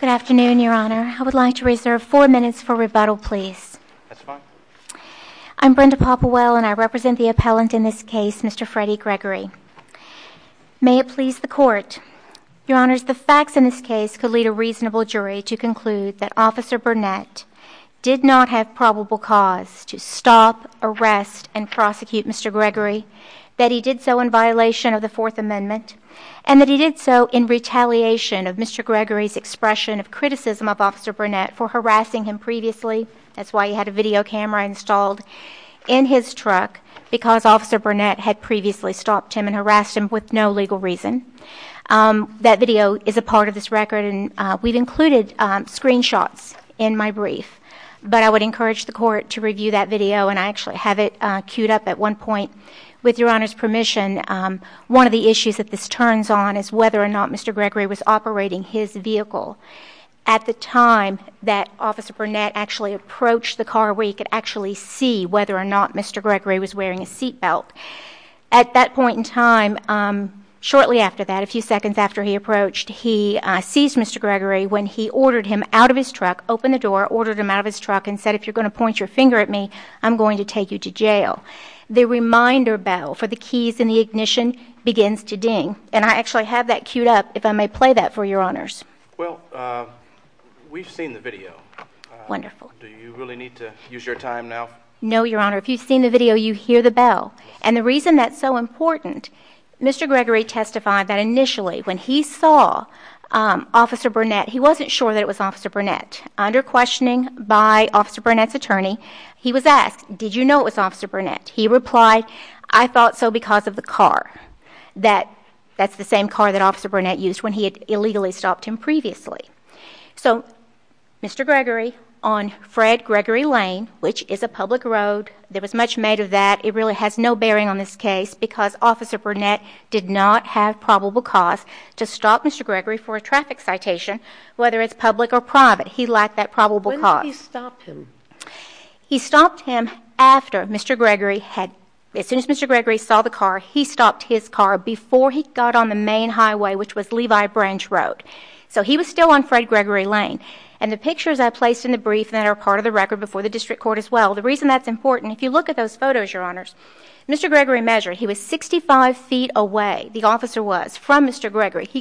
Good afternoon, Your Honor. I would like to reserve four minutes for rebuttal, please. That's fine. I'm Brenda Popowell, and I represent the appellant in this case, Mr. Freddie Gregory. May it please the Court, Your Honors, the facts in this case could lead a reasonable jury to conclude that Officer Burnett did not have probable cause to stop, arrest, and prosecute Mr. Gregory, that he did so in violation of the Fourth Amendment, and that he did so in retaliation of Mr. Gregory's expression of criticism of Officer Burnett for harassing him previously. That's why he had a video camera installed in his truck, because Officer Burnett had previously stopped him and harassed him with no legal reason. That video is a recorded screen shot in my brief, but I would encourage the Court to review that video, and I actually have it queued up at one point. With Your Honor's permission, one of the issues that this turns on is whether or not Mr. Gregory was operating his vehicle at the time that Officer Burnett actually approached the car where he could actually see whether or not Mr. Gregory was wearing a seat belt. At that point in time, shortly after that, a few seconds after he approached, he sees Mr. Gregory when he ordered him out of his truck, opened the door, ordered him out of his truck, and said, if you're going to point your finger at me, I'm going to take you to jail. The reminder bell for the keys and the ignition begins to ding, and I actually have that queued up, if I may play that for Your Honors. Well, we've seen the video. Wonderful. Do you really need to use your time now? No, Your Honor. If you've seen the video, you hear the bell. And the reason that's so important is that I'm not sure that it was Officer Burnett. Under questioning by Officer Burnett's attorney, he was asked, did you know it was Officer Burnett? He replied, I thought so because of the car. That's the same car that Officer Burnett used when he had illegally stopped him previously. So Mr. Gregory on Fred Gregory Lane, which is a public road, there was much made of that. It really has no bearing on this case because Officer Burnett did not have probable cause to stop Mr. Gregory for a traffic citation, whether it's public or private. He lacked that probable cause. When did he stop him? He stopped him after Mr. Gregory had, as soon as Mr. Gregory saw the car, he stopped his car before he got on the main highway, which was Levi Branch Road. So he was still on Fred Gregory Lane. And the pictures I placed in the brief that are part of the record before the district court as well, the reason that's important, if you look at those photos, Your Mr. Gregory, he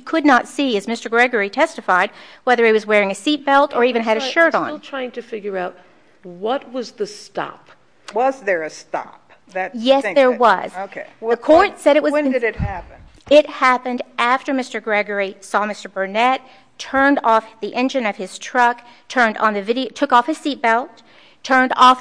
could not see as Mr. Gregory testified, whether he was wearing a seatbelt or even had a shirt on. I'm still trying to figure out, what was the stop? Was there a stop? Yes, there was. Okay. The court said it was. When did it happen? It happened after Mr. Gregory saw Mr. Burnett, turned off the engine of his truck, took off his seatbelt, turned on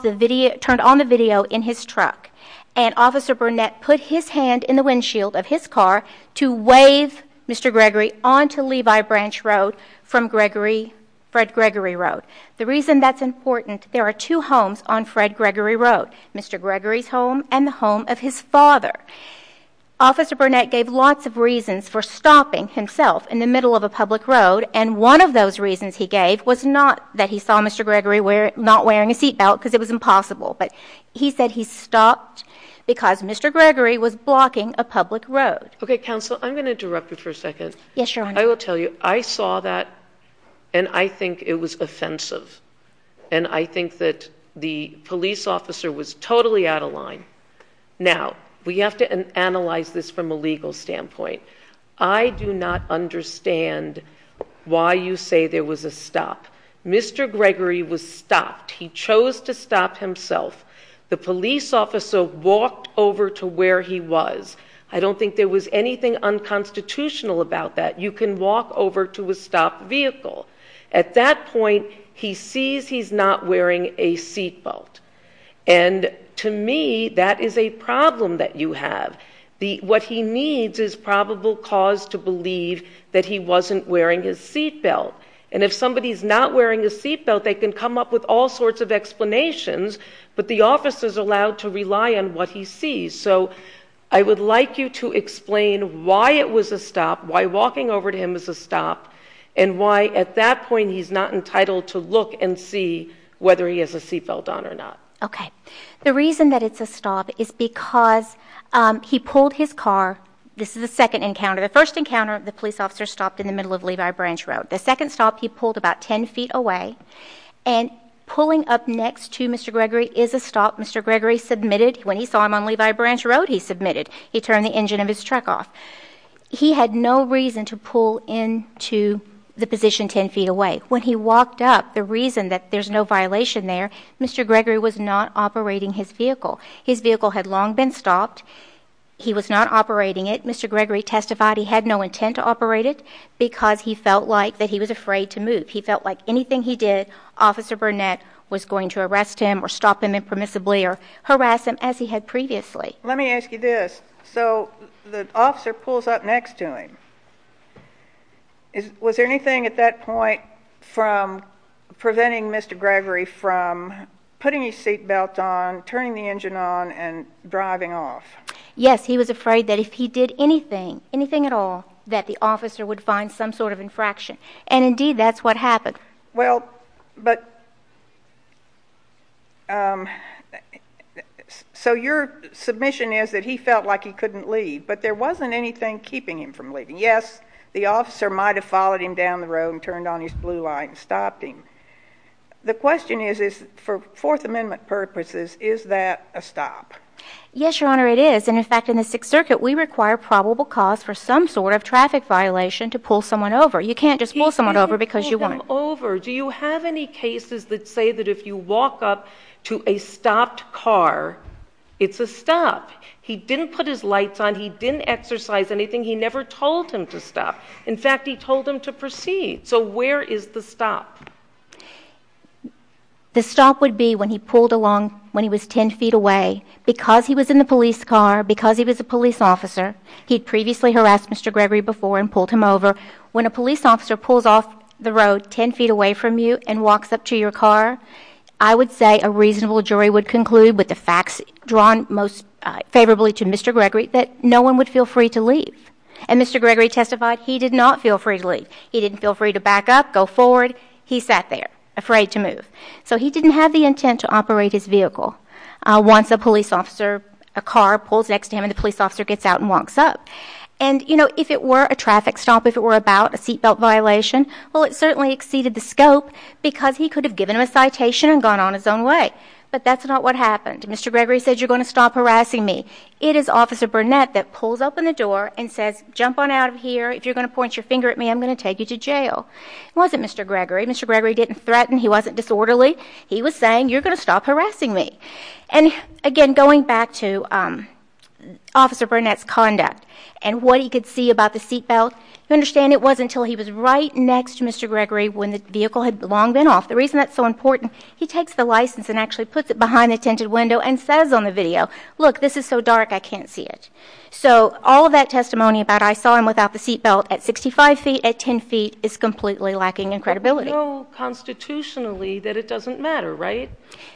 the video in his truck. And Officer Burnett put his hand in the windshield of his car to wave Mr. Gregory onto Levi Branch Road from Gregory, Fred Gregory Road. The reason that's important, there are two homes on Fred Gregory Road, Mr. Gregory's home and the home of his father. Officer Burnett gave lots of reasons for stopping himself in the middle of a public road. And one of those reasons he gave was not that he saw Mr. Gregory not wearing a seatbelt because it was impossible, but he said he stopped because Mr. Gregory was blocking a public road. Okay, counsel, I'm going to interrupt you for a second. Yes, Your Honor. I will tell you, I saw that and I think it was offensive. And I think that the police officer was totally out of line. Now, we have to analyze this from a legal standpoint. I do not understand why you say there was a stop. Mr. Gregory was stopped. He chose to walk over to where he was. I don't think there was anything unconstitutional about that. You can walk over to a stopped vehicle. At that point, he sees he's not wearing a seatbelt. And to me, that is a problem that you have. What he needs is probable cause to believe that he wasn't wearing his seatbelt. And if somebody's not wearing a seatbelt, they can come up with all sorts of explanations, but the officer's allowed to rely on what he sees. So I would like you to explain why it was a stop, why walking over to him was a stop, and why at that point he's not entitled to look and see whether he has a seatbelt on or not. Okay. The reason that it's a stop is because he pulled his car. This is the second encounter. The first encounter, the police officer stopped in the middle of Levi Branch Road. The second stop, he pulled about 10 feet away. And pulling up next to Mr. Gregory is a stop. Mr. Gregory submitted, when he saw him on Levi Branch Road, he submitted. He turned the engine of his truck off. He had no reason to pull into the position 10 feet away. When he walked up, the reason that there's no violation there, Mr. Gregory was not operating his vehicle. His vehicle had long been stopped. He was not operating it. Mr. Gregory testified he had no intent to operate it because he felt like that he was afraid to move. He felt like anything he did, Officer Burnett was going to arrest him or stop him impermissibly or harass him as he had previously. Let me ask you this. So the officer pulls up next to him. Was there anything at that point from preventing Mr. Gregory from putting his seatbelt on, turning the engine on, and driving off? Yes. He was afraid that if he did anything, anything at all, that the officer would find some sort of infraction. And indeed, that's what happened. Well, but, so your submission is that he felt like he couldn't leave. But there wasn't anything keeping him from leaving. Yes, the officer might have followed him down the road and turned on his blue light and stopped him. The question is, for Fourth Amendment purposes, is that a stop? Yes, Your Honor, it is. And in fact, in the Sixth Circuit, we require probable cause for some sort of traffic violation to pull someone over. You can't just pull someone over because you want to. He didn't pull them over. Do you have any cases that say that if you walk up to a stopped car, it's a stop? He didn't put his lights on. He didn't exercise anything. He never told him to stop. In fact, he told him to proceed. So where is the stop? The stop would be when he pulled along, when he was 10 feet away. Because he was in the police car, because he was a police officer, he'd previously harassed Mr. Gregory before and pulled him over. When a police officer pulls off the road 10 feet away from you and walks up to your car, I would say a reasonable jury would conclude with the facts drawn most favorably to Mr. Gregory that no one would feel free to leave. And Mr. Gregory testified he did not feel free to leave. He didn't feel free to back up, go forward. He sat there afraid to move. So he didn't have the intent to operate his vehicle. Once a police officer, a car pulls next to him and the police officer gets out and walks up. And you know, if it were a traffic stop, if it were about a seat belt violation, well it certainly exceeded the scope because he could have given him a citation and gone on his own way. But that's not what happened. Mr. Gregory said you're going to stop harassing me. It is Officer Burnett that pulls open the door and says jump on out of here. If you're going to point your finger at me, I'm going to take you to jail. It wasn't Mr. Gregory. Mr. Gregory didn't threaten. He wasn't disorderly. He was saying you're going to stop harassing me. And again, going back to Officer Burnett's conduct and what he could see about the seat belt, you understand it wasn't until he was right next to Mr. Gregory when the vehicle had long been off. The reason that's so important, he takes the license and actually puts it behind the tinted window and says on the video, look, this is so dark I can't see it. So all of that testimony about I saw him without the seat belt at 65 feet at 10 feet is completely lacking in credibility. But we know constitutionally that it doesn't matter, right?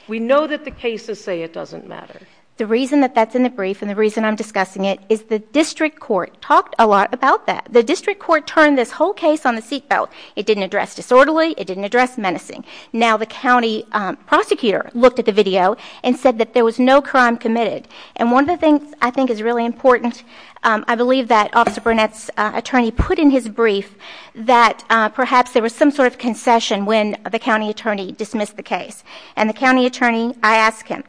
We know that the cases say it doesn't matter. The reason that that's in the brief and the reason I'm discussing it is the district court talked a lot about that. The district court turned this whole case on the seat belt. It didn't address disorderly. It didn't address menacing. Now the county prosecutor looked at the video and said that there was no crime committed. And one of the things I think is really important, I believe that Officer Burnett's attorney put in his brief that perhaps there was some sort of concession when the county attorney dismissed the case. And the county attorney, I asked him,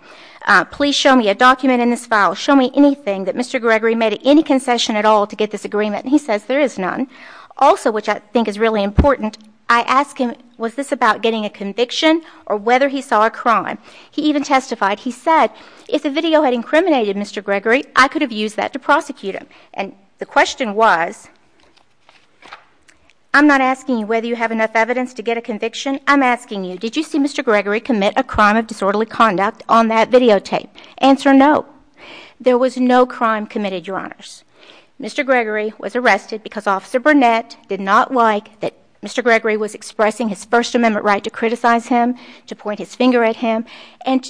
please show me a document in this file. Show me anything that Mr. Gregory made any concession at all to get this agreement. And he says there is none. Also which I think is really important, I asked him was this about getting a conviction or whether he saw a crime. He even testified. He said, if the video had incriminated Mr. Gregory, I could have used that to prosecute him. And the question was, I'm not asking you whether you have enough evidence to get a conviction. I'm asking you, did you see Mr. Gregory commit a crime of disorderly conduct on that videotape? Answer, no. There was no crime committed, your honors. Mr. Gregory was arrested because Officer Burnett did not like that Mr. Gregory was expressing his First Amendment right to criticize him, to point his finger at him, and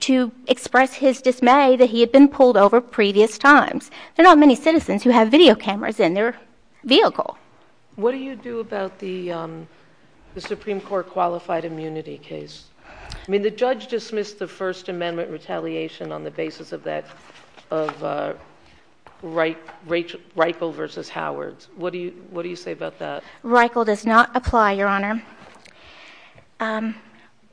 to express his dismay that he had been pulled over previous times. There are not many citizens who have video cameras in their vehicle. What do you do about the Supreme Court qualified immunity case? I mean, the judge dismissed the First Amendment retaliation on the basis of Reichel versus Howard. What do you say about that? Reichel does not apply, your honor.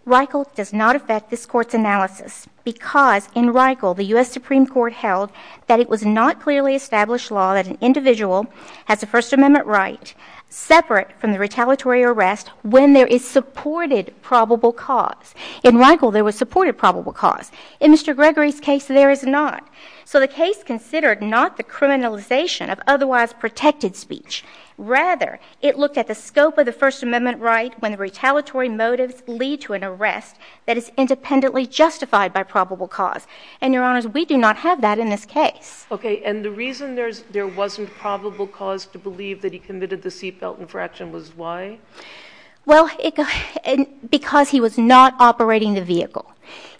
Reichel does not affect this Court's analysis because in Reichel, the U.S. Supreme Court held that it was not clearly established law that an individual has a First Amendment right separate from the retaliatory arrest when there is supported probable cause. In Reichel, there was supported probable cause. In Mr. Gregory's case, there is not. So the case considered not the criminalization of otherwise protected speech. Rather, it looked at the scope of the First Amendment right when the retaliatory motives lead to an arrest that is independently justified by probable cause. And your honors, we do not have that in this case. Okay, and the reason there wasn't probable cause to believe that he committed the seat belt infraction was why? Well, because he was not operating the vehicle.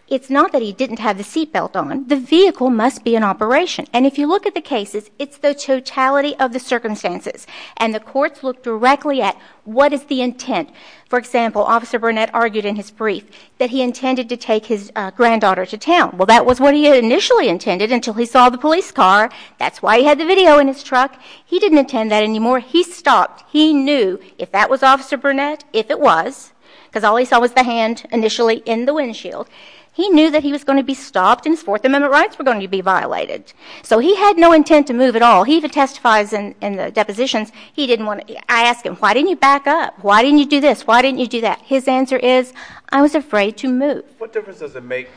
It's not that he didn't have the seat belt on. The vehicle must be in operation. And if you look at the cases, it's the totality of the circumstances. And the courts looked directly at what is the intent. For example, Officer Burnett argued in his brief that he intended to take his granddaughter to town. Well, that was what he initially intended until he saw the police car. That's why he had the video in his truck. He didn't intend that anymore. He stopped. He knew if that was Officer Burnett, if it was, because all he saw was the hand initially in the windshield, he knew that he was going to be stopped and his Fourth Amendment rights were going to be violated. So he had no intent to move at all. He even testifies in the depositions, he didn't want to. I ask him, why didn't you back up? Why didn't you do this? Why didn't you do that? His answer is, I was afraid to move. What difference does it make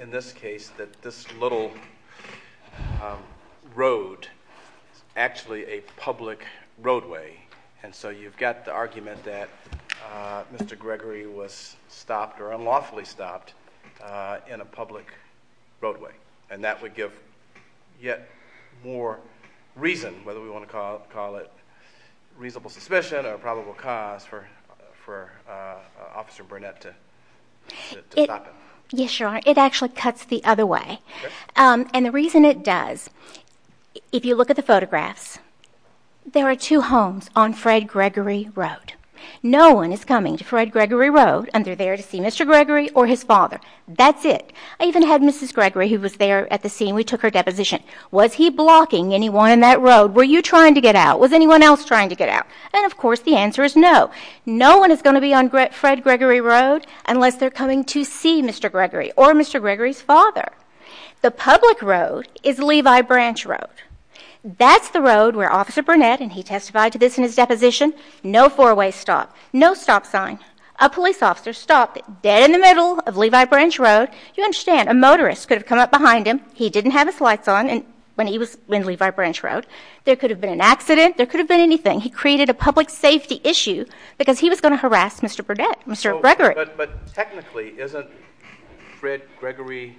in this case that this little road is actually a public road? It's probably stopped in a public roadway. And that would give yet more reason, whether we want to call it reasonable suspicion or probable cause, for Officer Burnett to stop it. Yes, Your Honor. It actually cuts the other way. And the reason it does, if you look at the photographs, there are two homes on Fred Gregory Road. No one is coming to Fred Gregory or his father. That's it. I even had Mrs. Gregory, who was there at the scene, we took her deposition. Was he blocking anyone in that road? Were you trying to get out? Was anyone else trying to get out? And of course, the answer is no. No one is going to be on Fred Gregory Road unless they're coming to see Mr. Gregory or Mr. Gregory's father. The public road is Levi Branch Road. That's the road where Officer Burnett, and he testified to this in his deposition, no four-way stop, no stop sign. A police officer stopped dead in the middle of Levi Branch Road. You understand, a motorist could have come up behind him. He didn't have his lights on when he was in Levi Branch Road. There could have been an accident. There could have been anything. He created a public safety issue because he was going to harass Mr. Burnett, Mr. Gregory. But technically, isn't Fred Gregory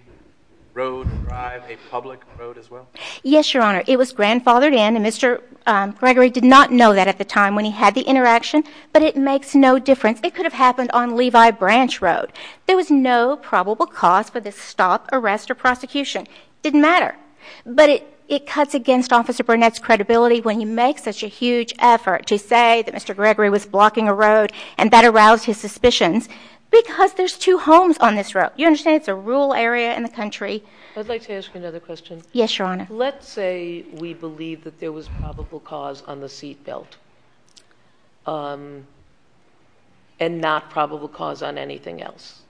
Road Drive a public road as well? Yes, Your Honor. It was grandfathered in. And Mr. Gregory did not know that at the time when he had the interaction. But it makes no difference. It could have happened on Levi Branch Road. There was no probable cause for the stop, arrest, or prosecution. It didn't matter. But it cuts against Officer Burnett's credibility when he makes such a huge effort to say that Mr. Gregory was blocking a road and that aroused his suspicions because there's two homes on this road. You understand, it's a rural area in the country. I'd like to ask you another question. Yes, Your Honor. Let's say we believe that there was probable cause on the seatbelt and not probable cause on anything else,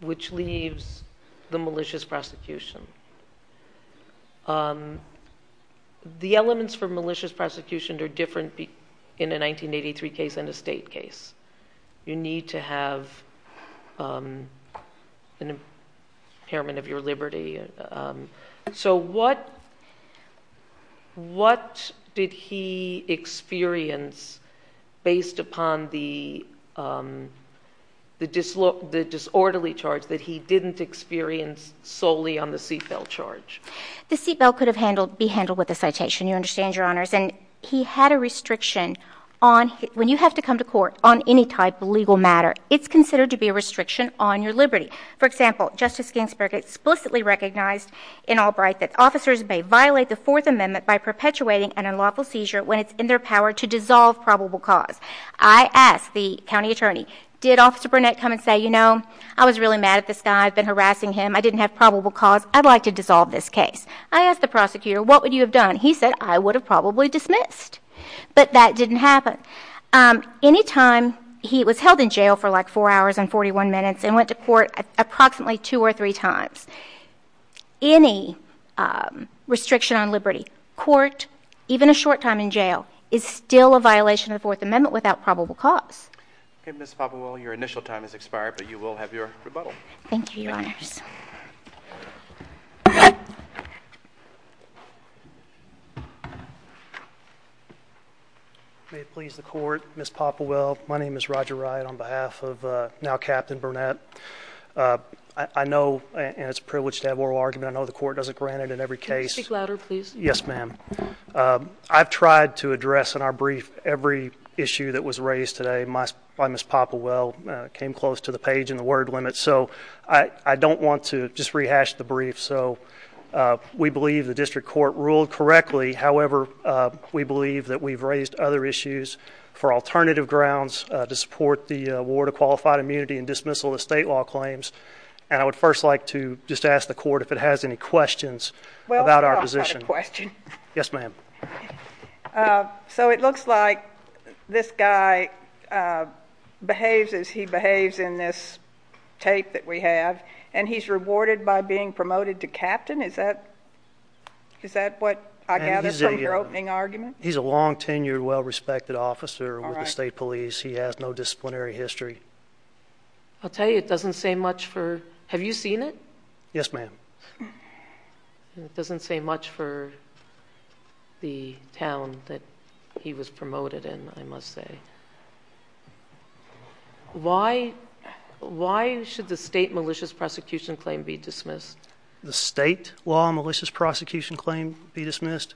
which leaves the malicious prosecution. The elements for malicious prosecution are different in a 1983 case and a state case. You need to have an impairment of your liberty. So what did he experience based upon the disorderly charge that he didn't experience solely on the seatbelt charge? The seatbelt could be handled with a citation. You understand, Your Honors. And he had a restriction on when you have to come to court on any type of legal matter, it's considered to be a restriction on your liberty. For example, Justice Ginsburg explicitly recognized in Albright that officers may violate the Fourth Amendment by perpetuating an unlawful seizure when it's in their power to dissolve probable cause. I asked the county attorney, did Officer Burnett come and say, you know, I was really mad at this guy. I've been harassing him. I didn't have probable cause. I'd like to dissolve this case. I asked the prosecutor, what would you have done? He said, I would have probably dismissed. But that didn't happen. Any time he was held in jail for like four hours and 41 minutes and went to court approximately two or three times, any restriction on liberty, court, even a short time in jail, is still a violation of the Fourth Amendment without probable cause. Okay, Ms. Popow, your initial time has expired, but you will have your rebuttal. Thank you, Your Honors. May it please the court, Ms. Popowell, my name is Roger Wright on behalf of now Captain Burnett. I know, and it's a privilege to have oral argument, I know the court doesn't grant it in every case. Speak louder, please. Yes, ma'am. I've tried to address in our brief every issue that was raised today by Ms. Popowell, came close to the page and the word limit. So I don't want to just rehash the brief. So we believe the district court ruled correctly. However, we believe that we've raised other issues for alternative grounds to support the award of qualified immunity and dismissal of state law claims. And I would first like to just ask the court if it has any questions about our position. Well, I've got a question. Yes, ma'am. So it looks like this guy behaves as he behaves in this tape that we have, and he's rewarded by being promoted to captain. Is that what I gather from your opening argument? He's a long-tenured, well-respected officer with the state police. He has no disciplinary history. I'll tell you, it doesn't say much for, have you seen it? Yes, ma'am. It doesn't say much for the town that he was promoted in, I must say. Why should the state malicious prosecution claim be dismissed? The state law malicious prosecution claim be dismissed?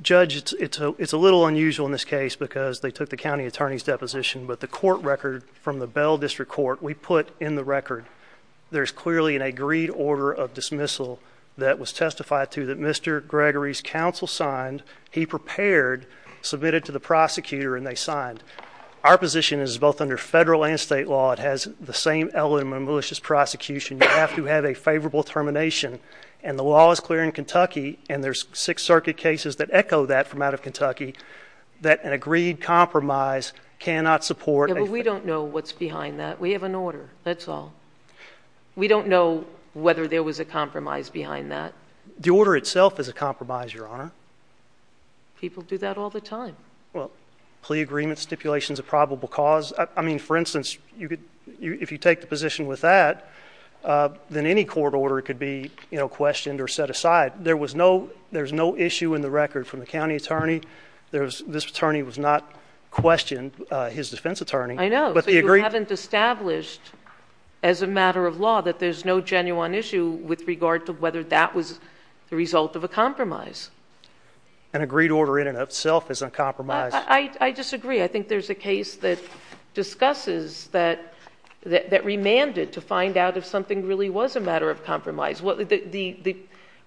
Judge, it's a little unusual in this case because they took the county attorney's deposition, but the court record from the Bell District Court, we put in the record, there's clearly an agreed order of dismissal that was testified to that Mr. Gregory's counsel signed, he prepared, submitted to the prosecutor, and they signed. Our position is both under federal and state law, it has the same element of malicious prosecution. You have to have a favorable termination. And the law is clear in Kentucky, and there's Sixth Circuit cases that echo that from out of Kentucky, that an agreed compromise cannot support a We don't know what's behind that. We have an order, that's all. We don't know whether there was a compromise behind that. The order itself is a compromise, Your Honor. People do that all the time. Plea agreement stipulations of probable cause. I mean, for instance, if you take the position with that, then any court order could be questioned or set aside. There was no, there's no issue in the record from the county attorney. This attorney was not questioned, his defense attorney. I know, but you haven't established as a matter of law that there's no genuine issue with regard to whether that was the result of a compromise. An agreed order in and of itself is a compromise. I disagree. I think there's a case that discusses that, that remanded to find out if something really was a matter of compromise. The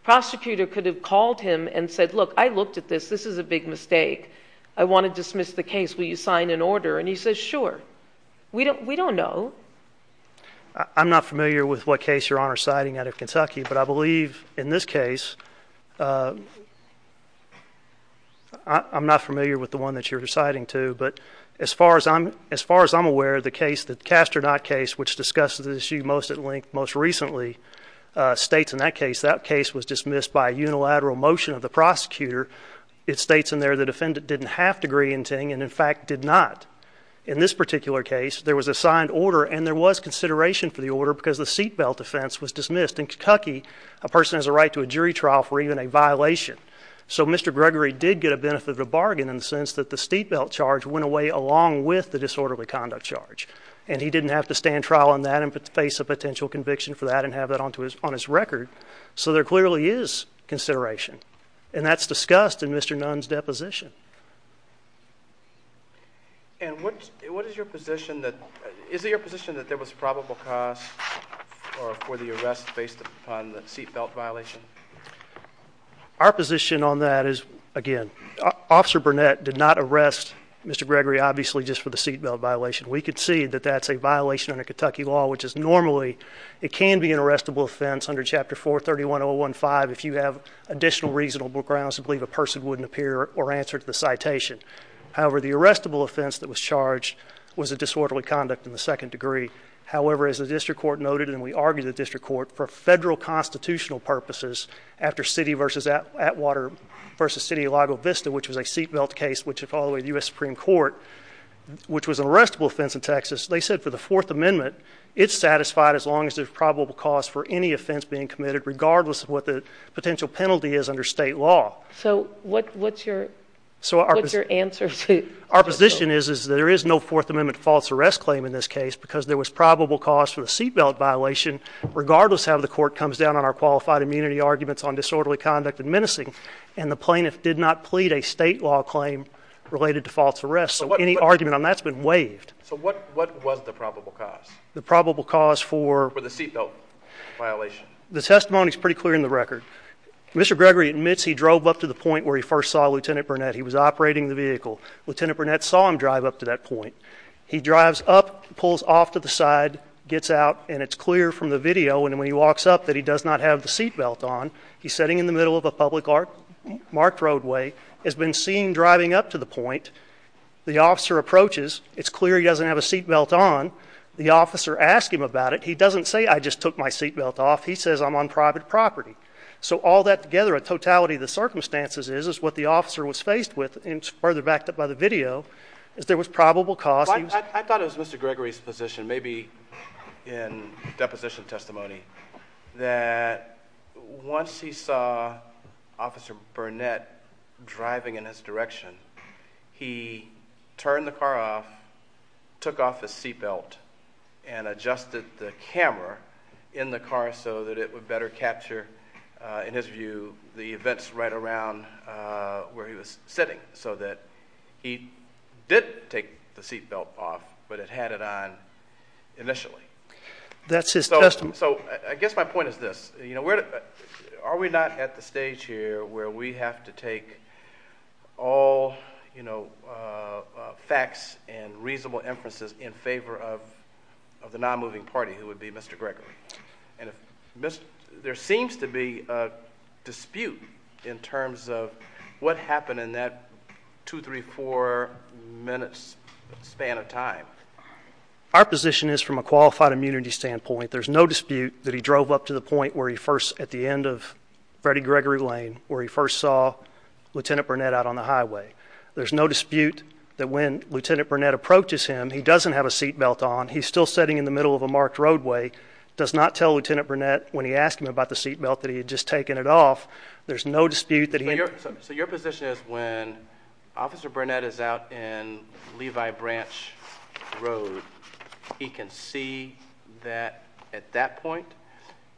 prosecutor could have called him and said, look, I looked at this, this is a big mistake. I want to dismiss the case. Will you sign an order? And he says, sure. We don't, we don't know. I'm not familiar with what case you're on or citing out of Kentucky, but I believe in this case, uh, I'm not familiar with the one that you're deciding to, but as far as I'm, as far as I'm aware of the case that cast or not case, which discusses the issue most at length, most recently, uh, states in that case, that case was dismissed by unilateral motion of the prosecutor. It states in there, the defendant didn't have to agree in Ting and in fact did not. In this particular case, there was a signed order and there was consideration for the order because the seatbelt offense was dismissed in Kentucky. A person has a right to a jury trial for even a violation. So Mr. Gregory did get a benefit of the bargain in the sense that the seatbelt charge went away along with the disorderly conduct charge and he didn't have to stand trial on that and face a potential conviction for that and have that onto his on his record. So there clearly is consideration and that's discussed in Mr. Nunn's deposition. And what, what is your position that, is it your position that there was probable cause or for the arrest based upon the seatbelt violation? Our position on that is again, Officer Burnett did not arrest Mr. Gregory obviously just for the seatbelt violation. We could see that that's a violation under Kentucky law, which is normally it can be an arrestable offense under Chapter 4, 31015 if you have additional reasonable grounds to believe a person wouldn't appear or answer to the citation. However, the arrestable offense that was charged was a disorderly conduct in the second degree. However, as the district court noted and we argued the district court for federal constitutional purposes after city versus Atwater versus City of Lago Vista, which was a seatbelt case, which had followed the U.S. Supreme Court, which was an arrestable offense in Texas, they said for the Fourth Amendment, there was probable cause for any offense being committed regardless of what the potential penalty is under state law. So what, what's your, what's your answer to? Our position is that there is no Fourth Amendment false arrest claim in this case because there was probable cause for the seatbelt violation regardless of how the court comes down on our qualified immunity arguments on disorderly conduct and menacing. And the plaintiff did not plead a state law claim related to false arrest. So any argument on that's been waived. So what, what was the probable cause? The probable cause for the seatbelt violation? The testimony is pretty clear in the record. Mr. Gregory admits he drove up to the point where he first saw Lieutenant Burnett. He was operating the vehicle. Lieutenant Burnett saw him drive up to that point. He drives up, pulls off to the side, gets out and it's clear from the video. And when he walks up that he does not have the seatbelt on, he's sitting in the middle of a public art marked roadway has been seen driving up to the point. The officer approaches. It's clear he doesn't have a seatbelt on. The officer asked him about it. He doesn't say, I just took my seatbelt off. He says, I'm on private property. So all that together, a totality of the circumstances is, is what the officer was faced with. And it's further backed up by the video is there was probable cause. I thought it was Mr. Gregory's position, maybe in deposition testimony, that once he saw Officer Burnett driving in his direction, he turned the car off, took off his seatbelt and adjusted the camera in the car so that it would better capture, uh, in his view, the events right around, uh, where he was sitting so that he didn't take the seatbelt off, but it had it on initially. That's his testimony. So I guess my point is this, you have to take all, you know, uh, facts and reasonable inferences in favor of, of the non-moving party, who would be Mr. Gregory. And if there seems to be a dispute in terms of what happened in that two, three, four minutes span of time, our position is from a qualified immunity standpoint, there's no dispute that he drove up to the point where he first, at the end of Freddie Gregory Lane, where he first saw Lieutenant Burnett out on the highway. There's no dispute that when Lieutenant Burnett approaches him, he doesn't have a seatbelt on. He's still sitting in the middle of a marked roadway, does not tell Lieutenant Burnett when he asked him about the seatbelt that he had just taken it off. There's no dispute that your, so your position is when Officer Burnett is out in Levi Branch Road, he can see that at that point,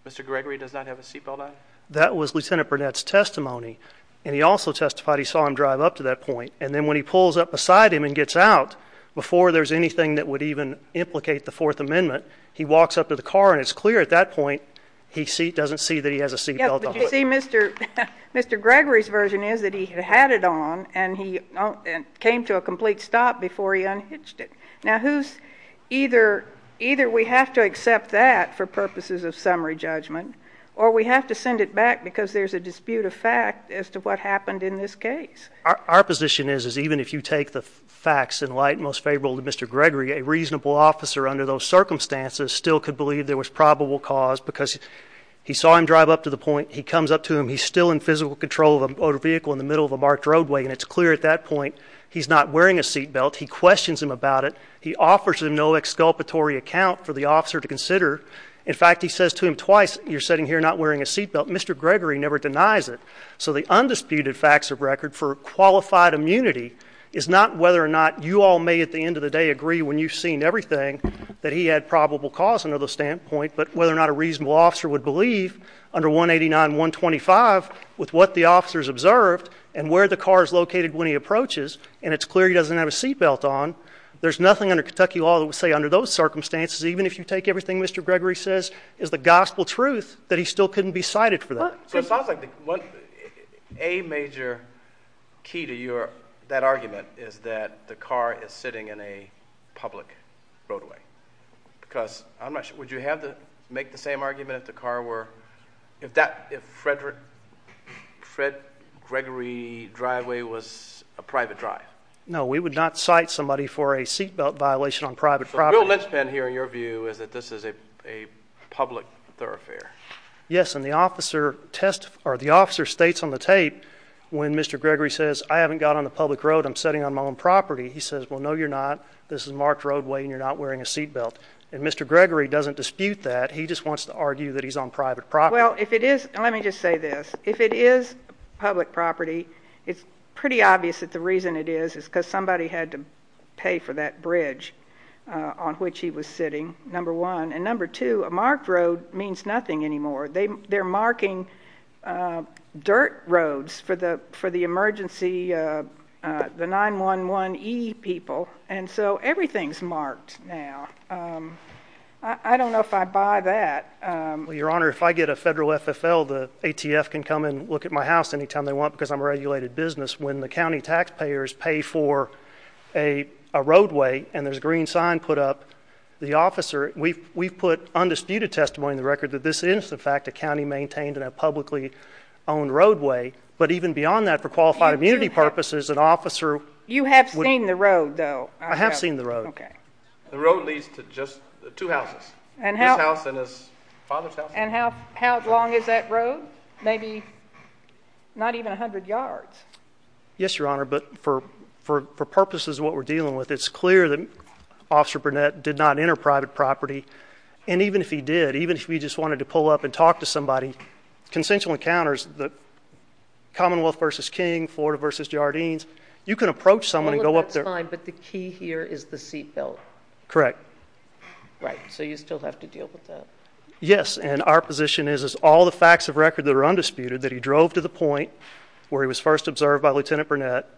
Mr. Gregory does not have a seatbelt on? That was Lieutenant Burnett's testimony, and he also testified he saw him drive up to that point, and then when he pulls up beside him and gets out, before there's anything that would even implicate the Fourth Amendment, he walks up to the car and it's clear at that point, he doesn't see that he has a seatbelt on. Yeah, but you see Mr. Gregory's version is that he had it on, and he came to a complete stop before he unhitched it. Now who's, either, either we have to accept that for purposes of summary judgment, or we have to send it back because there's a dispute of fact as to what happened in this case. Our position is, is even if you take the facts in light, most favorable to Mr. Gregory, a reasonable officer under those circumstances still could believe there was probable cause because he saw him drive up to the point, he comes up to him, he's still in physical control of a motor vehicle in the middle of a marked roadway, and it's clear at that point he's not wearing a seatbelt, he questions him about it, he offers him no exculpatory account for the officer to consider, in fact he says to him twice, you're sitting here not wearing a seatbelt, Mr. Gregory never denies it. So the undisputed facts of record for qualified immunity is not whether or not you all may at the end of the day agree when you've seen everything that he had probable cause under the standpoint, but whether or not a reasonable officer would believe under 189.125 with what the officers observed and where the car is located when he approaches and it's clear he doesn't have a seatbelt on, there's nothing under Kentucky law that would say under those circumstances even if you take everything Mr. Gregory says is the gospel truth that he still couldn't be cited for that. So it sounds like a major key to your, that argument is that the car is sitting in a public roadway, because I'm not sure, would you have to make the same argument if the car were, if that, if Frederick, Fred Gregory driveway was a private drive? No, we would not cite somebody for a seatbelt violation on private property. So the real linchpin here in your view is that this is a public thoroughfare. Yes, and the officer states on the tape when Mr. Gregory says I haven't got on the public road, I'm sitting on my own property, he says well no you're not, this is marked roadway and you're not wearing a seatbelt. And Mr. Gregory doesn't dispute that, he just wants to argue that he's on private property. Well if it is, let me just say this, if it is public property, it's pretty obvious that the reason it is is because somebody had to pay for that bridge on which he was sitting, number one. And number two, a marked road means nothing anymore. They're marking dirt roads for the emergency, the 911E people, and so everything's marked roads now. I don't know if I buy that. Well, Your Honor, if I get a federal FFL, the ATF can come and look at my house any time they want because I'm a regulated business. When the county taxpayers pay for a roadway and there's a green sign put up, the officer, we've put undisputed testimony in the record that this is in fact a county maintained and a publicly owned roadway. But even beyond that, for qualified immunity purposes, an officer. You have seen the road though. I have seen the road. Okay. The road leads to just two houses, his house and his father's house. And how long is that road? Maybe not even a hundred yards. Yes, Your Honor, but for purposes of what we're dealing with, it's clear that Officer Burnett did not enter private property. And even if he did, even if he just wanted to pull up and talk to somebody, consensual encounters, the Commonwealth versus King, Florida versus Jardines, you can approach someone and go up there. But the key here is the seatbelt. Correct. Right. So you still have to deal with that. Yes. And our position is, is all the facts of record that are undisputed that he drove to the point where he was first observed by Lieutenant Burnett.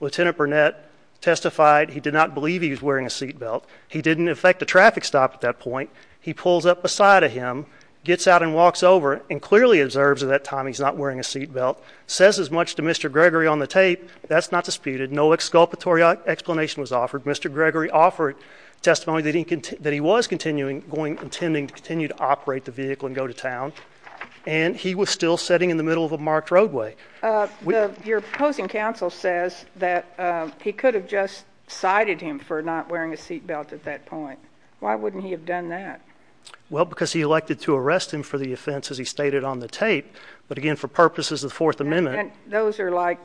Lieutenant Burnett testified he did not believe he was wearing a seatbelt. He didn't affect the traffic stop at that point. He pulls up beside of him, gets out and walks over and clearly observes at that time he's not wearing a seatbelt. Says as much to Mr. Gregory on the tape. That's not disputed. No exculpatory explanation was offered. Mr. Gregory offered testimony that he was continuing, going, intending to continue to operate the vehicle and go to town. And he was still sitting in the middle of a marked roadway. Your opposing counsel says that he could have just cited him for not wearing a seatbelt at that point. Why wouldn't he have done that? Well, because he elected to arrest him for the offense as he stated on the tape. But again, for purposes of the Fourth Amendment. And those are like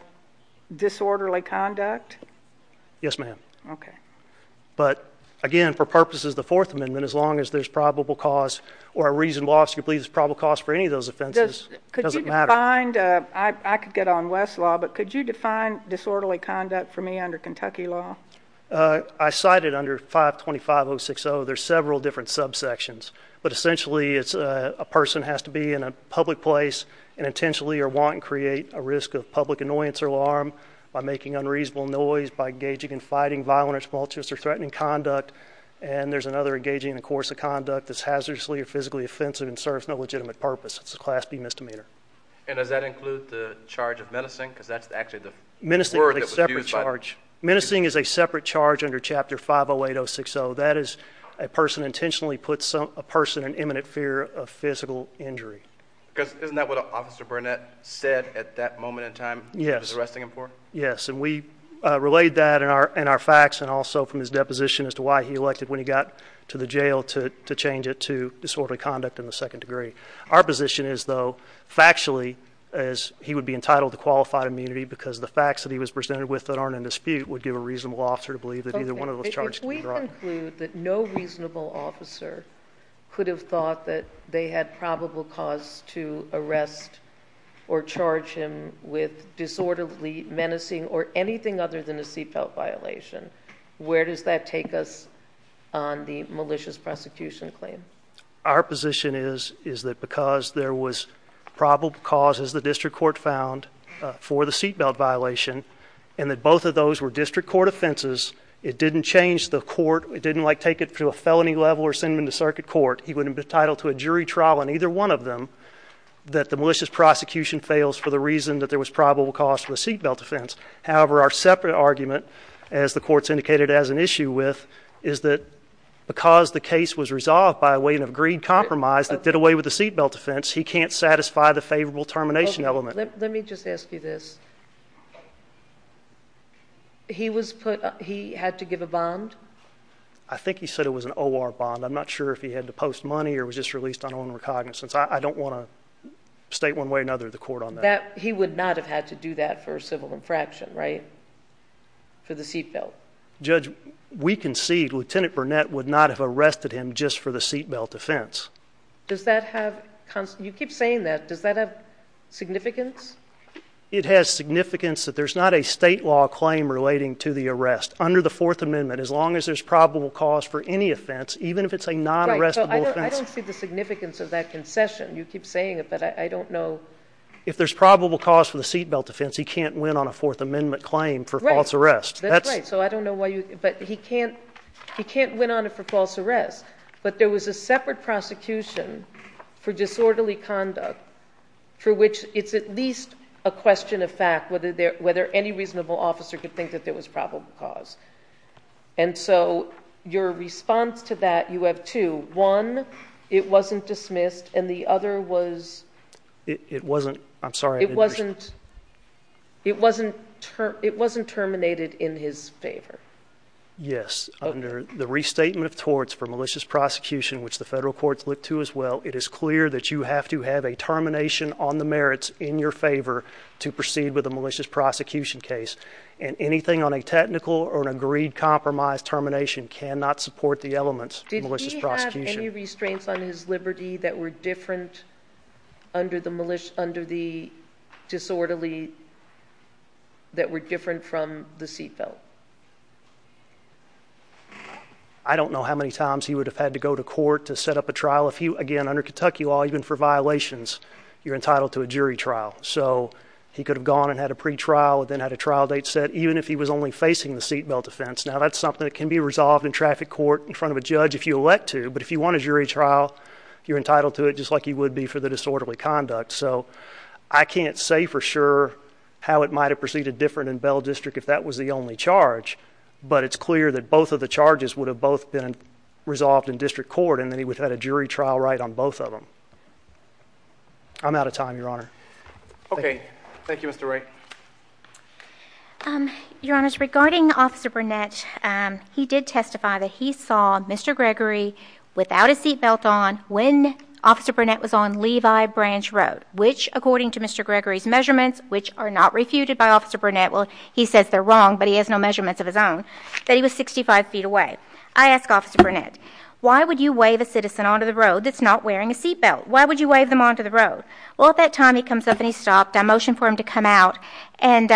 disorderly conduct? Yes, ma'am. Okay. But again, for purposes of the Fourth Amendment, as long as there's probable cause or a reason why you believe there's probable cause for any of those offenses, it doesn't matter. I could get on Westlaw, but could you define disorderly conduct for me under Kentucky law? I cited under 525.060, there's several different subsections. But essentially, it's a person has to be in a public place and intentionally or want to create a risk of public annoyance or alarm by making unreasonable noise, by engaging and fighting violent or tumultuous or threatening conduct. And there's another engaging in a course of conduct that's hazardously or physically offensive and serves no legitimate purpose. It's a class B misdemeanor. And does that include the charge of menacing? Because that's actually the word that was used by- Menacing is a separate charge under chapter 508.060. That is a person intentionally puts a person in imminent fear of physical injury. Because isn't that what Officer Burnett said at that moment in time? He was arresting him for? Yes, and we relayed that in our facts and also from his deposition as to why he elected when he got to the jail to change it to disorderly conduct in the second degree. Our position is though, factually, is he would be entitled to qualified immunity because the facts that he was presented with that aren't in dispute would give a reasonable officer to believe that either one of those charges can be dropped. Does that include that no reasonable officer could have thought that they had probable cause to arrest or charge him with disorderly menacing or anything other than a seat belt violation? Where does that take us on the malicious prosecution claim? Our position is that because there was probable cause as the district court found for the seat belt violation and that both of those were district court offenses, it didn't change the court, it didn't take it to a felony level or send him to circuit court. He would have been entitled to a jury trial on either one of them that the malicious prosecution fails for the reason that there was probable cause for the seat belt offense. However, our separate argument, as the court's indicated as an issue with, is that because the case was resolved by a weight of greed compromise that did away with the seat belt offense, he can't satisfy the favorable termination element. Let me just ask you this. He had to give a bond? I think he said it was an OR bond. I'm not sure if he had to post money or was just released on own recognizance. I don't want to state one way or another to the court on that. He would not have had to do that for a civil infraction, right, for the seat belt? Judge, we concede Lieutenant Burnett would not have arrested him just for the seat belt offense. Does that have, you keep saying that, does that have significance? It has significance that there's not a state law claim relating to the arrest under the Fourth Amendment as long as there's probable cause for any offense, even if it's a non-arrestable offense. I don't see the significance of that concession. You keep saying it, but I don't know. If there's probable cause for the seat belt offense, he can't win on a Fourth Amendment claim for false arrest. That's right, so I don't know why you, but he can't win on it for false arrest. But there was a separate prosecution for disorderly conduct for which it's at least a question of fact whether any reasonable officer could think that there was probable cause. And so your response to that, you have two. One, it wasn't dismissed, and the other was- It wasn't, I'm sorry, I didn't understand. It wasn't terminated in his favor. Yes, under the restatement of torts for malicious prosecution, which the federal courts look to as well, it is clear that you have to have a termination on the merits in your favor to proceed with a malicious prosecution case. And anything on a technical or an agreed compromise termination cannot support the elements of malicious prosecution. Did he have any restraints on his liberty that were different under the disorderly, that were different from the seat belt? I don't know how many times he would have had to go to court to set up a trial. If you, again, under Kentucky law, even for violations, you're entitled to a jury trial. So he could have gone and had a pre-trial, then had a trial date set, even if he was only facing the seat belt offense. Now that's something that can be resolved in traffic court in front of a judge if you elect to. But if you want a jury trial, you're entitled to it, just like you would be for the disorderly conduct. So I can't say for sure how it might have proceeded different in Bell District if that was the only charge. But it's clear that both of the charges would have both been resolved in district court, and then he would have had a jury trial right on both of them. I'm out of time, Your Honor. Okay. Thank you, Mr. Ray. Your Honor, regarding Officer Burnett, he did testify that he saw Mr. Gregory without a seat belt on when Officer Burnett was on Levi Branch Road, which according to Mr. Gregory's measurements, which are not refuted by Officer Burnett. Well, he says they're wrong, but he has no measurements of his own, that he was 65 feet away. I ask Officer Burnett, why would you wave a citizen onto the road that's not wearing a seat belt? Why would you wave them onto the road? Well, at that time he comes up and he stopped. I motioned for him to come out, and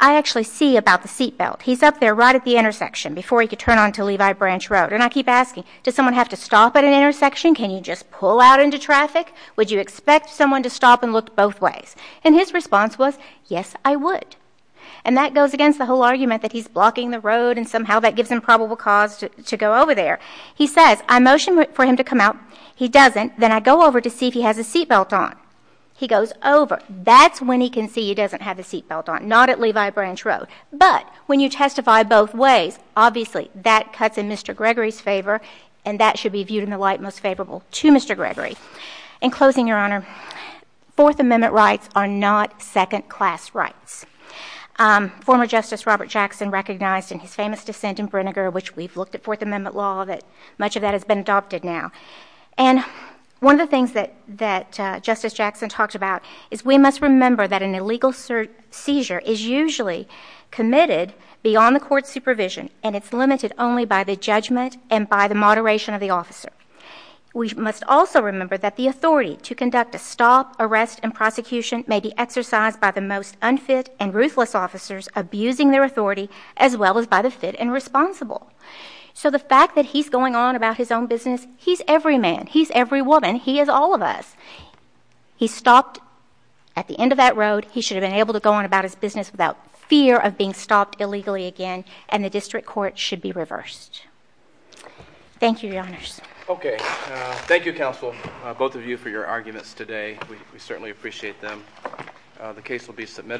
I actually see about the seat belt. He's up there right at the intersection before he could turn onto Levi Branch Road. And I keep asking, does someone have to stop at an intersection? Can you just pull out into traffic? Would you expect someone to stop and look both ways? And his response was, yes, I would. And that goes against the whole argument that he's blocking the road and somehow that gives him probable cause to go over there. He says, I motioned for him to come out. He doesn't. Then I go over to see if he has a seat belt on. He goes over. That's when he can see he doesn't have a seat belt on, not at Levi Branch Road. But when you testify both ways, obviously that cuts in Mr. Gregory's favor, and that should be viewed in the light most favorable to Mr. In closing, Your Honor, Fourth Amendment rights are not second-class rights. Former Justice Robert Jackson recognized in his famous dissent in Brinegar, which we've looked at Fourth Amendment law, that much of that has been adopted now. And one of the things that Justice Jackson talked about is we must remember that an illegal seizure is usually committed beyond the court's supervision, and it's limited only by the judgment and by the moderation of the officer. We must also remember that the authority to conduct a stop, arrest, and prosecution may be exercised by the most unfit and ruthless officers abusing their authority, as well as by the fit and responsible. So the fact that he's going on about his own business, he's every man, he's every woman, he is all of us. He stopped at the end of that road. He should have been able to go on about his business without fear of being stopped illegally again, and the district court should be reversed. Thank you, Your Honors. Okay, thank you, counsel, both of you for your arguments today. We certainly appreciate them. The case will be submitted.